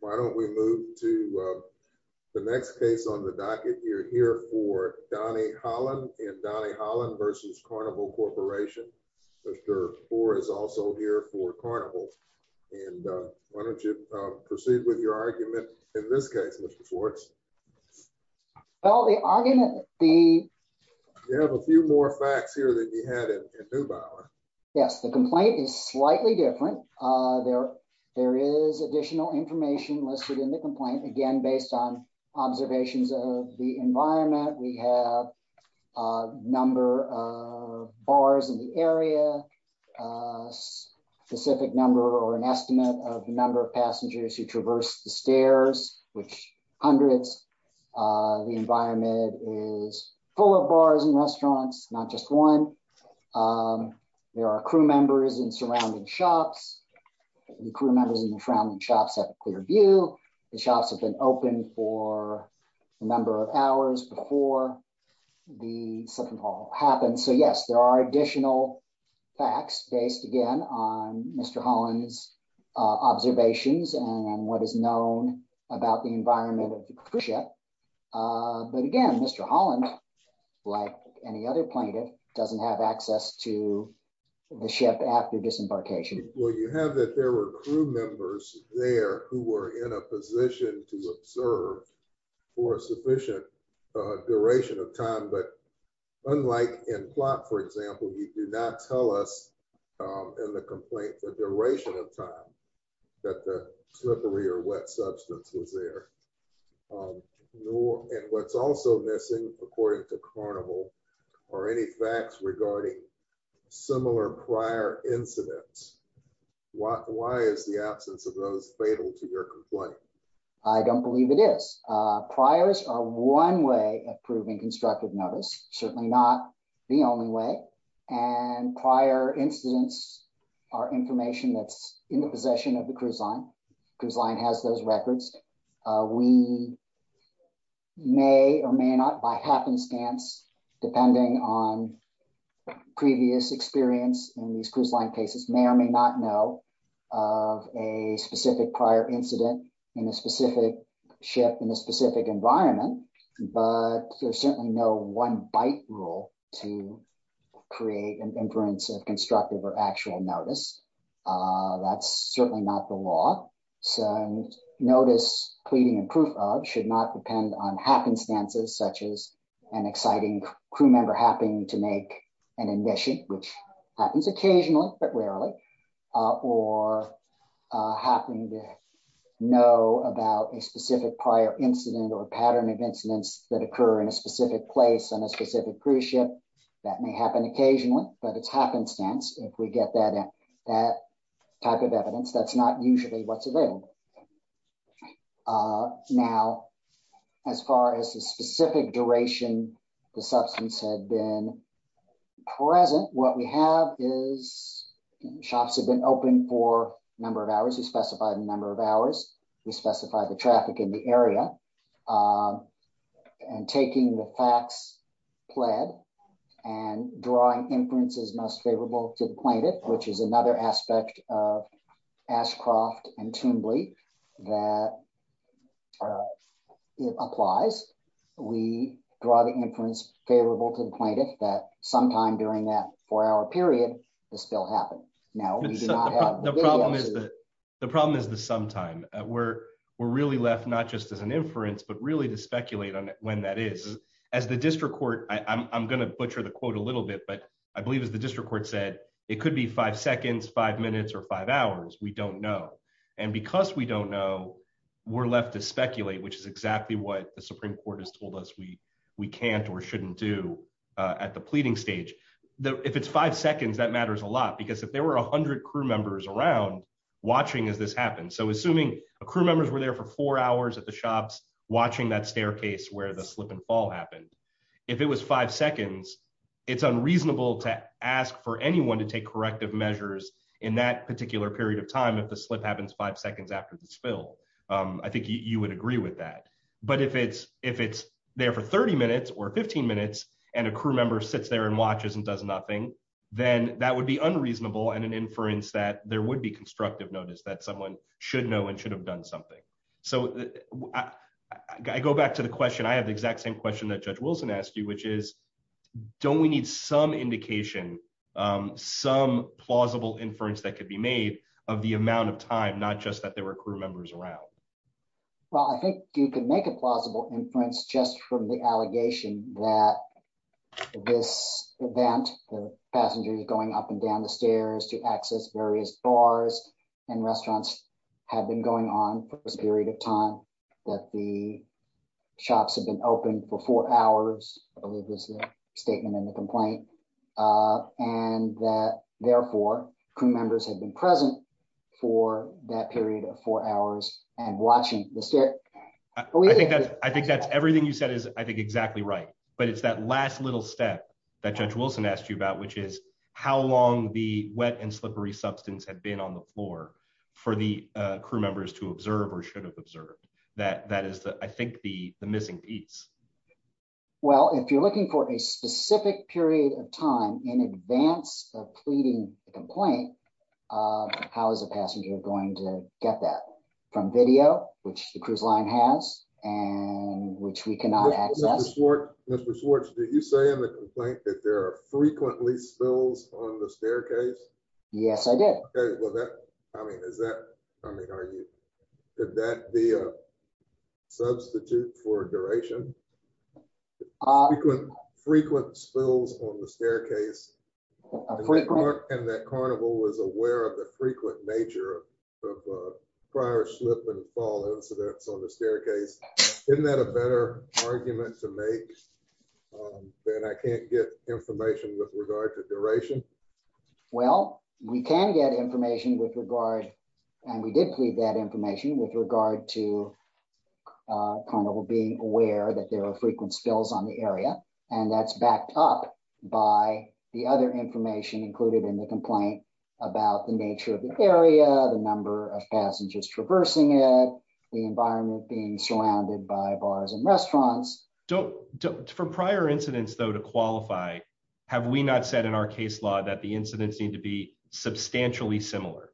Why don't we move to the next case on the docket. You're here for Donnie Holland and Donnie Holland v. Carnival Corporation. Mr. Bohr is also here for Carnival. Why don't you proceed with your argument in this case, Mr. Schwartz? You have a few more facts here than you had in Neubauer. Yes, the complaint is slightly different. There is additional information listed in the complaint, again, based on observations of the environment. We have a number of bars in the area, a specific number or an estimate of the number of passengers who traverse the stairs, which hundreds. The environment is full of bars and restaurants, not just one. There are crew members in surrounding shops. The crew members in the surrounding shops have a clear view. The shops have been open for a number of hours before the slip-and-fall happened. So, yes, there are additional facts based, again, on Mr. Holland's observations and what is known about the environment of the cruise ship. But, again, Mr. Holland, like any other plaintiff, doesn't have access to the ship after disembarkation. Well, you have that there were crew members there who were in a position to observe for a sufficient duration of time, but unlike in Plott, for example, he did not tell us in the complaint the duration of time that the slippery or wet substance was there. And what's also missing, according to Carnival, are any facts regarding similar prior incidents. Why is the absence of those fatal to your complaint? I don't believe it is. Priors are one way of proving constructive notice, certainly not the only way, and prior incidents are information that's in the possession of the cruise line. The cruise line has those records. We may or may not, by happenstance, depending on previous experience in these cruise line cases, may or may not know of a specific prior incident in a specific ship in a specific environment, but there's certainly no one-bite rule to create an inference of constructive or actual notice. That's certainly not the law. Notice, pleading, and proof of should not depend on happenstances, such as an exciting crew member happening to make an admission, which happens occasionally but occur in a specific place on a specific cruise ship. That may happen occasionally, but it's happenstance. If we get that type of evidence, that's not usually what's available. Now, as far as the specific duration the substance had been present, what we have is shops have been open for a number of hours. We specified the number of hours. We specified the traffic in the area, and taking the facts pled and drawing inferences most favorable to the plaintiff, which is another aspect of Ashcroft and Timberley that it applies. We draw the inference favorable to the plaintiff that sometime during that four-hour period, this bill happened. Now, we do not have the videos. The problem is the sometime. We're really left not just as an inference but really to speculate on when that is. As the district court, I'm going to butcher the quote a little bit, but I believe as the district court said, it could be five seconds, five minutes, or five hours. We don't know. Because we don't know, we're left to speculate, which is exactly what the Supreme Court has told us we can't or shouldn't do at the pleading stage. If it's five seconds, that matters a lot. Because if there were 100 crew members around watching as this happens, so assuming a crew members were there for four hours at the shops watching that staircase where the slip and fall happened, if it was five seconds, it's unreasonable to ask for anyone to take corrective measures in that particular period of time if the slip happens five seconds after the spill. I think you would agree with that. But if it's there for 30 minutes or 15 minutes, and a crew member sits there and watches and does nothing, then that would be unreasonable and an inference that there would be constructive notice that someone should know and should have done something. So I go back to the question. I have the exact same question that Judge Wilson asked you, which is, don't we need some indication, some plausible inference that could be made of the amount of time, not just that there were crew members around? Well, I think you could make a plausible inference just from the allegation that this event, the passengers going up and down the stairs to access various bars and restaurants, had been going on for this period of time, that the shops had been open for four hours, I believe is the statement in the complaint, and that, therefore, crew members had been present for that period of four hours and watching the stairs. I think that's everything you said is, I think, exactly right. But it's that last little step that Judge Wilson asked you about, which is how long the wet and slippery substance had been on the floor for the crew members to observe or should have observed. That is, I think, the missing piece. Well, if you're looking for a specific period of time in advance of pleading the complaint, how is a passenger going to get that? From video, which the cruise line has, and which we cannot access. Mr. Schwartz, did you say in the complaint that there are frequently spills on the staircase? Yes, I did. Okay, well, that, I mean, is that, I mean, are you, could that be a substitute for duration? Frequent spills on the staircase? And that Carnival was aware of the frequent nature of prior slip and fall incidents on the staircase. Isn't that a better argument to make that I can't get information with regard to duration? Well, we can get information with regard, and we did plead that information with regard to Carnival being aware that there are frequent spills on the area, and that's backed up by the other information included in the complaint about the nature of the area, the number of passengers traversing it, the environment being surrounded by bars and restaurants. For prior incidents, though, to qualify, have we not said in our case law that the incidents need to be substantially similar?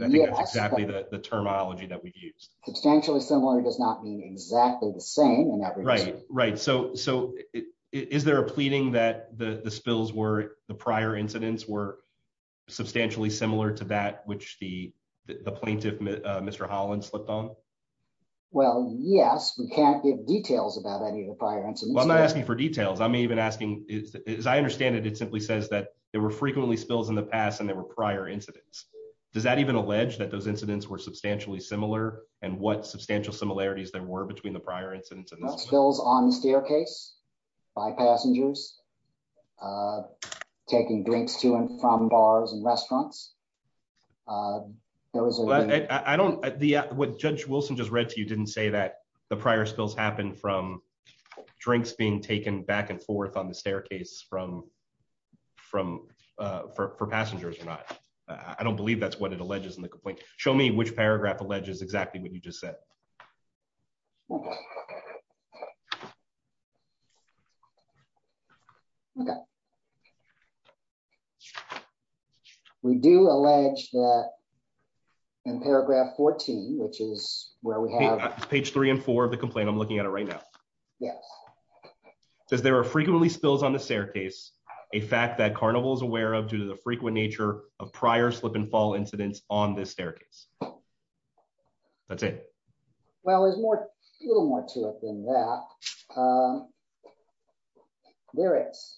I think that's exactly the terminology that we've used. Substantially similar does not mean exactly the same. Right, right, so is there a pleading that the spills were, the prior incidents were substantially similar to that which the plaintiff, Mr. Holland, slipped on? Well, yes, we can't give details about any of the prior incidents. Well, I'm not asking for details. I'm even asking, as I understand it, it simply says that there were frequently spills in the past and there were prior incidents. Does that even allege that those incidents were substantially similar, and what substantial similarities there were between the uh, taking drinks to and from bars and restaurants? Uh, there was, I don't, the, what Judge Wilson just read to you didn't say that the prior spills happened from drinks being taken back and forth on the staircase from, from, uh, for, for passengers or not. I don't believe that's what it alleges in the complaint. Show me which paragraph alleges exactly what you just said. Okay. We do allege that in paragraph 14, which is where we have page 3 and 4 of the complaint, I'm looking at it right now. Yes. Does there are frequently spills on the staircase, a fact that Carnival is aware of due to the frequent nature of prior slip and that's it? Well there's more, a little more to it than that. Uh, there is.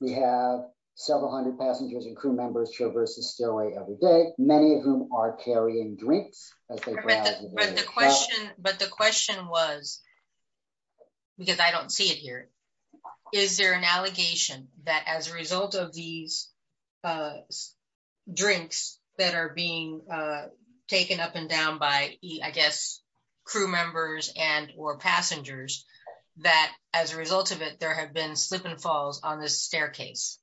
We have several hundred passengers and crew members traverse the stairway every day, many of whom are carrying drinks. But the question, but the question was, because I don't see it here, is there an allegation that as a result of these, uh, drinks that are being, uh, taken up and down by, I guess, crew members and or passengers, that as a result of it there have been slip and falls on this staircase?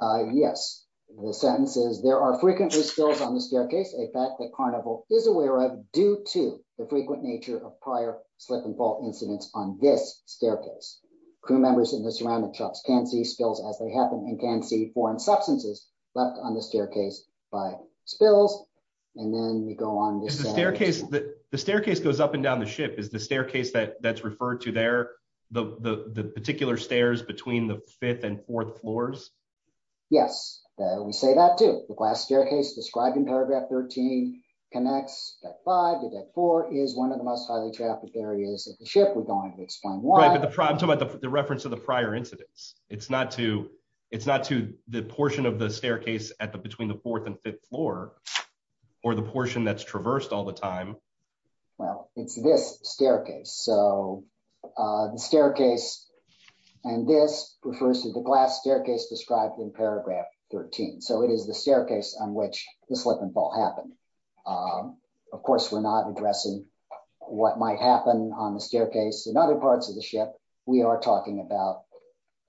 Uh, yes. The sentence is there are frequently spills on the staircase, a fact that Carnival is aware of due to the frequent nature of prior slip and fall incidents on this staircase. Crew members in the surrounding can see spills as they happen and can see foreign substances left on the staircase by spills. And then we go on. Is the staircase, the staircase goes up and down the ship, is the staircase that that's referred to there the, the particular stairs between the fifth and fourth floors? Yes, we say that too. The glass staircase described in paragraph 13 connects deck five to deck four is one of the most highly trafficked areas of the ship. We don't have to explain why. I'm talking about the reference to the prior incidents. It's not to, it's not to the portion of the staircase at the between the fourth and fifth floor or the portion that's traversed all the time. Well, it's this staircase. So, uh, the staircase and this refers to the glass staircase described in paragraph 13. So it is the staircase on which the slip and fall happened. Um, of course we're not addressing what might happen on the staircase in other parts of the ship. We are talking about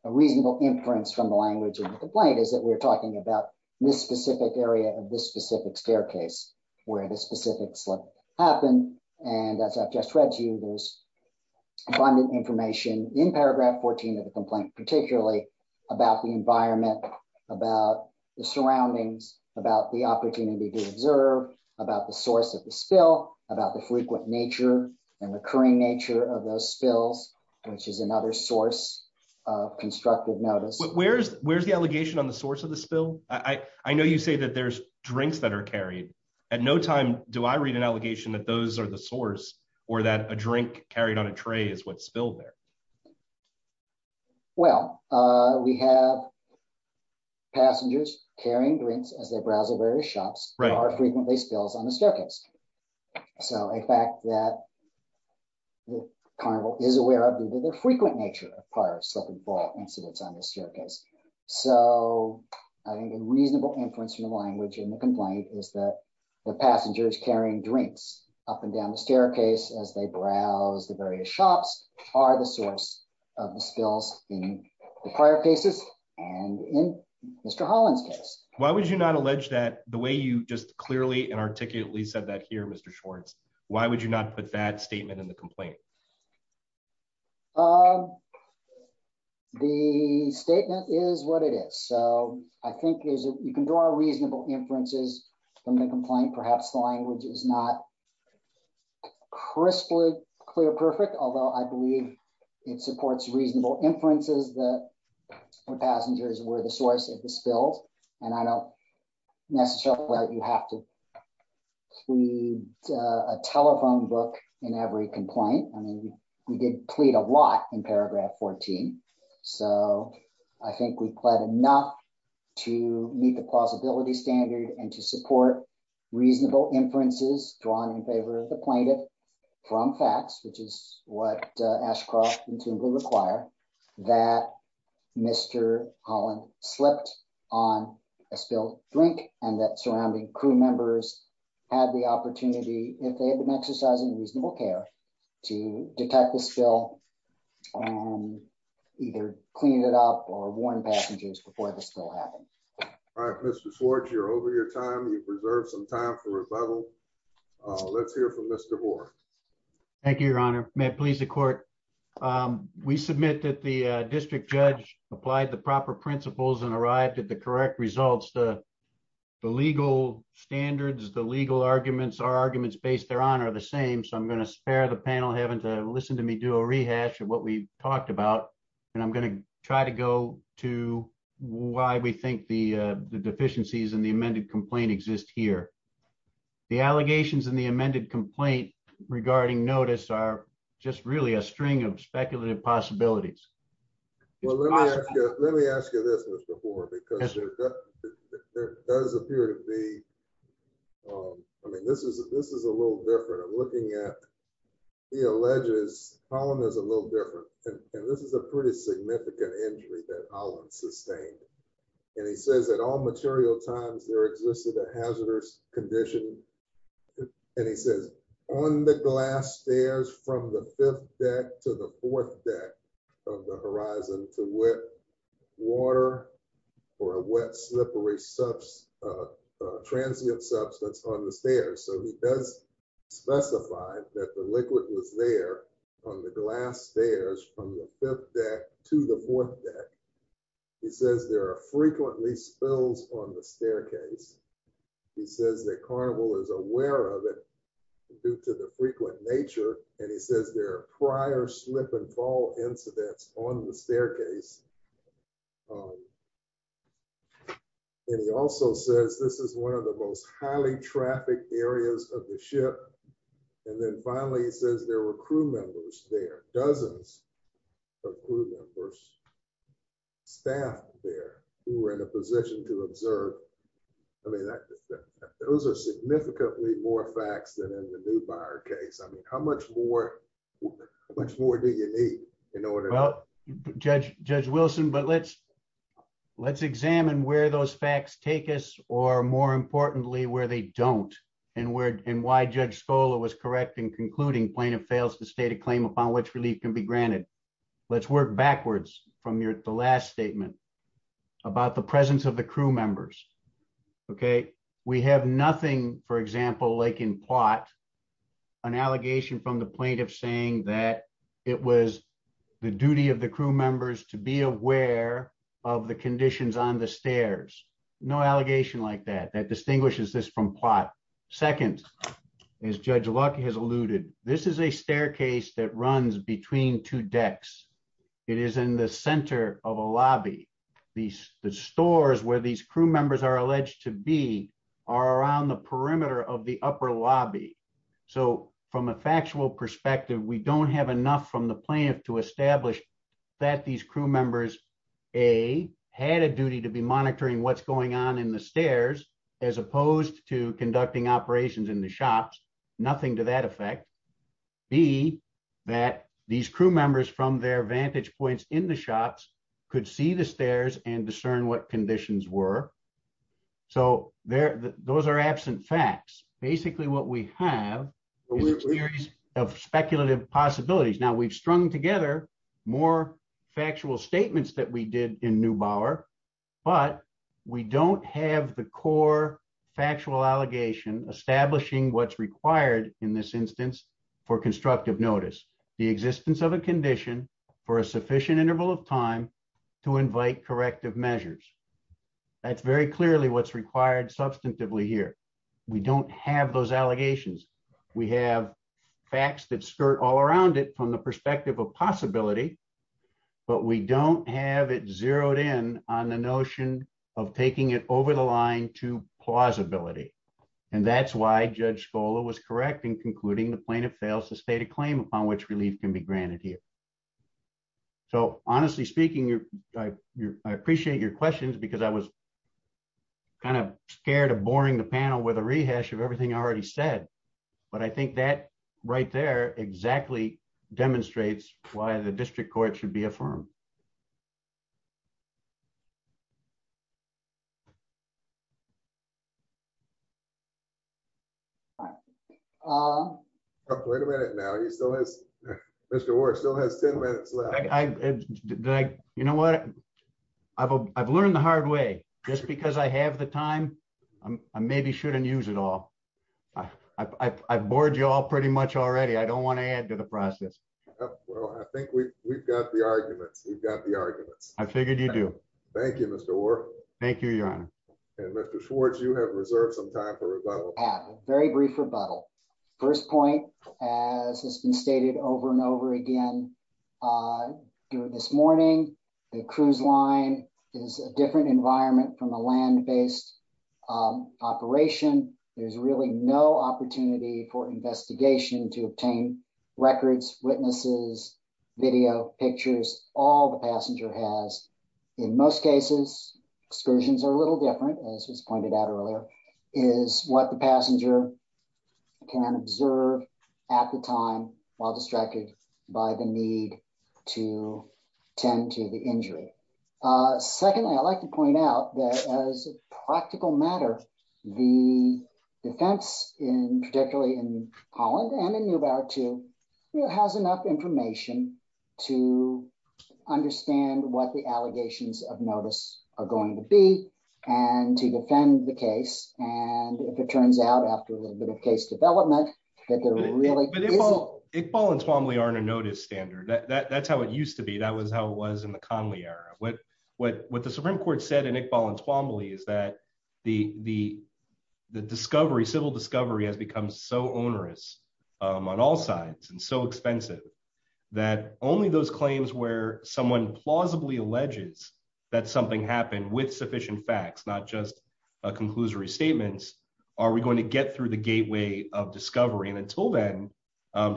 a reasonable inference from the language of the complaint is that we're talking about this specific area of this specific staircase where the specific slip happened. And as I've just read to you, there's abundant information in paragraph 14 of the complaint, particularly about the environment, about the surroundings, about the opportunity to observe, about the source of the spill, about the frequent nature and recurring nature of those spills, which is another source of constructive notice. But where's, where's the allegation on the source of the spill? I, I know you say that there's drinks that are carried. At no time do I read an allegation that those are the source or that a drink carried on a tray is what spilled there. Well, uh, we have passengers carrying drinks as they browse the various shops or frequently spills on the staircase. So a fact that the carnival is aware of due to their frequent nature of prior slip and fall incidents on the staircase. So I think a reasonable inference from the language in the complaint is that the passengers carrying drinks up and down the staircase as they browse the various shops are the source of the spills in the prior cases and in Mr. Holland's case. Why would you not allege that the way you just clearly and articulately said that here, Mr. Schwartz, why would you not put that statement in the complaint? The statement is what it is. So I think you can draw a reasonable inferences from the complaint. Perhaps the language is not crisply clear perfect, although I believe it supports reasonable inferences that the passengers were the source of the spills. And I don't necessarily have to plead a telephone book in every complaint. I mean, we did plead a lot in paragraph 14. So I think we pled enough to meet the plausibility standard and to support reasonable inferences drawn in favor of the plaintiff from facts, which is what Ashcroft intuitively require that Mr. Holland slipped on a spilled drink and that surrounding crew members had the opportunity if they had been exercising reasonable care to detect the spill and either clean it up or warn passengers before the spill happened. All right, Mr. Swartz, you're over your time. You've reserved some time for a bubble. Let's hear from Mr. Moore. Thank you, Your Honor. May it please the court. We submit that the district judge applied the proper principles and arrived at the correct results. The legal standards, the legal arguments are arguments based thereon are the same. So I'm going to spare the panel having to listen to me do a rehash of what we talked about. And I'm going to try to go to why we think the deficiencies in the amended complaint exist here. The allegations in the amended complaint regarding notice are just really a string of speculative possibilities. Well, let me ask you this before, because there does appear to be. I mean, this is this is a little different. I'm looking at the alleges column is a little different. And this is a pretty significant injury that I'll sustain. And he says that all material times there existed a hazardous condition. And he says on the glass stairs from the fifth deck to the fourth deck of the horizon to wet water or a wet, slippery substance, transient substance on the stairs. So he does specify that the liquid was there on the glass stairs from the fifth deck to the fourth deck. He says there are frequently spills on the staircase. He says that carnival is aware of it due to the frequent nature. And he says there are prior slip and fall incidents on the staircase. And he also says this is one of the most highly trafficked areas of the ship. And then finally, he says there were crew members there, dozens of crew members, staff there who were in a position to observe. I mean, those are significantly more facts than in the in order. Well, Judge, Judge Wilson, but let's, let's examine where those facts take us, or more importantly, where they don't. And where and why Judge Scola was correct in concluding plaintiff fails to state a claim upon which relief can be granted. Let's work backwards from your last statement about the presence of the crew members. Okay, we have nothing, for example, like in plot, an allegation from the plaintiff saying that it was the duty of the crew members to be aware of the conditions on the stairs. No allegation like that, that distinguishes this from plot. Second, as Judge Luck has alluded, this is a staircase that runs between two decks. It is in the center of a lobby. The stores where these crew members are alleged to be are around the perimeter of the upper lobby. So from a factual perspective, we don't have enough from the plaintiff to establish that these crew members, A, had a duty to be monitoring what's going on in the stairs, as opposed to conducting operations in the shops. Nothing to that effect. B, that these crew members from their vantage points in the shops could see the stairs and those are absent facts. Basically, what we have is a series of speculative possibilities. Now, we've strung together more factual statements that we did in Neubauer, but we don't have the core factual allegation establishing what's required in this instance for constructive notice, the existence of a condition for a sufficient interval of time to invite corrective measures. That's very clearly what's required substantively here. We don't have those allegations. We have facts that skirt all around it from the perspective of possibility, but we don't have it zeroed in on the notion of taking it over the line to plausibility. And that's why Judge Scola was correct in concluding the plaintiff fails to state a claim upon which I appreciate your questions, because I was kind of scared of boring the panel with a rehash of everything I already said. But I think that right there exactly demonstrates why the district court should be affirmed. Oh, wait a minute now. He still has Mr. Ward still has 10 minutes left. You know what? I've learned the hard way just because I have the time. I maybe shouldn't use it all. I bored you all pretty much already. I don't want to add to the process. Well, I think we've got the arguments. We've got the arguments. I figured you do. Thank you, Mr. Ward. Thank you, Your Honor. And Mr. Schwartz, you have reserved some time for a very brief rebuttal. First point, as has been stated over and over again, this morning, the cruise line is a different environment from a land based operation. There's really no opportunity for investigation to obtain records, witnesses, video pictures. All the passenger has, in most cases, excursions are a little different, as was pointed out earlier, is what the passenger can observe at the time while distracted by the need to tend to the injury. Secondly, I'd like to point out that as a practical matter, the defense, particularly in Holland and in Neubauer too, has enough information to understand what the allegations of notice are going to be and to defend the case. And if it turns out after a little bit of case development, that there really isn't. But Iqbal and Twombly aren't a notice standard. That's how it used to be. That was how it was in the Conley era. What the Supreme Court said in Iqbal and Twombly is that the discovery, civil discovery, has become so onerous on all sides and so expensive that only those claims where someone plausibly alleges that something happened with sufficient facts, not just a conclusory statement, are we going to get through the gateway of discovery? And until then,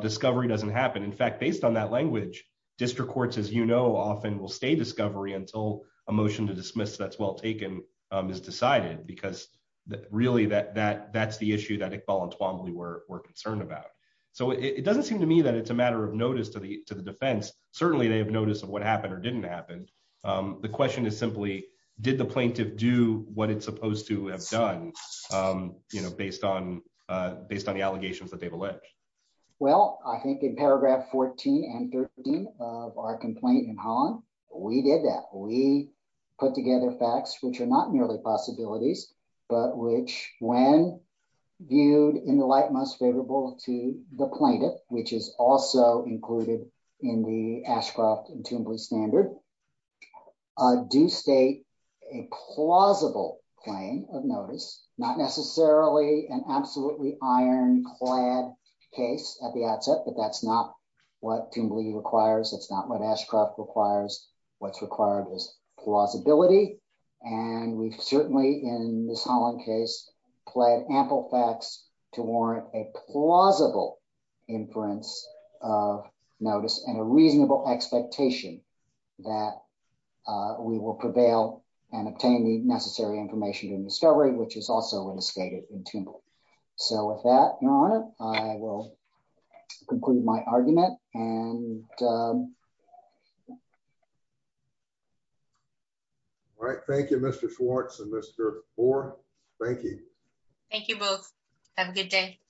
discovery doesn't happen. In fact, based on that language, district courts, as you know, often will stay discovery until a motion to dismiss that's well taken is decided. Because really, that's the issue that Iqbal and Twombly were concerned about. So it doesn't seem to me that it's a matter of notice to the defense. Certainly, they have notice of what happened or didn't happen. The question is simply, did the plaintiff do what it's supposed to have done based on the allegations that they've Well, I think in paragraph 14 and 13 of our complaint in Holland, we did that we put together facts which are not merely possibilities, but which when viewed in the light most favorable to the plaintiff, which is also included in the Ashcroft and Twombly standard, do state a plausible claim of notice, not necessarily an absolutely iron clad case at the outset. But that's not what Twombly requires. It's not what Ashcroft requires. What's required is plausibility. And we've certainly in this Holland case, played ample to warrant a plausible inference of notice and a reasonable expectation that we will prevail and obtain the necessary information in discovery, which is also in the stated in Twombly. So with that, Your Honor, I will conclude my argument. All right. Thank you, Mr. Schwartz and Mr. Moore. Thank you. Thank you both. Have a good day.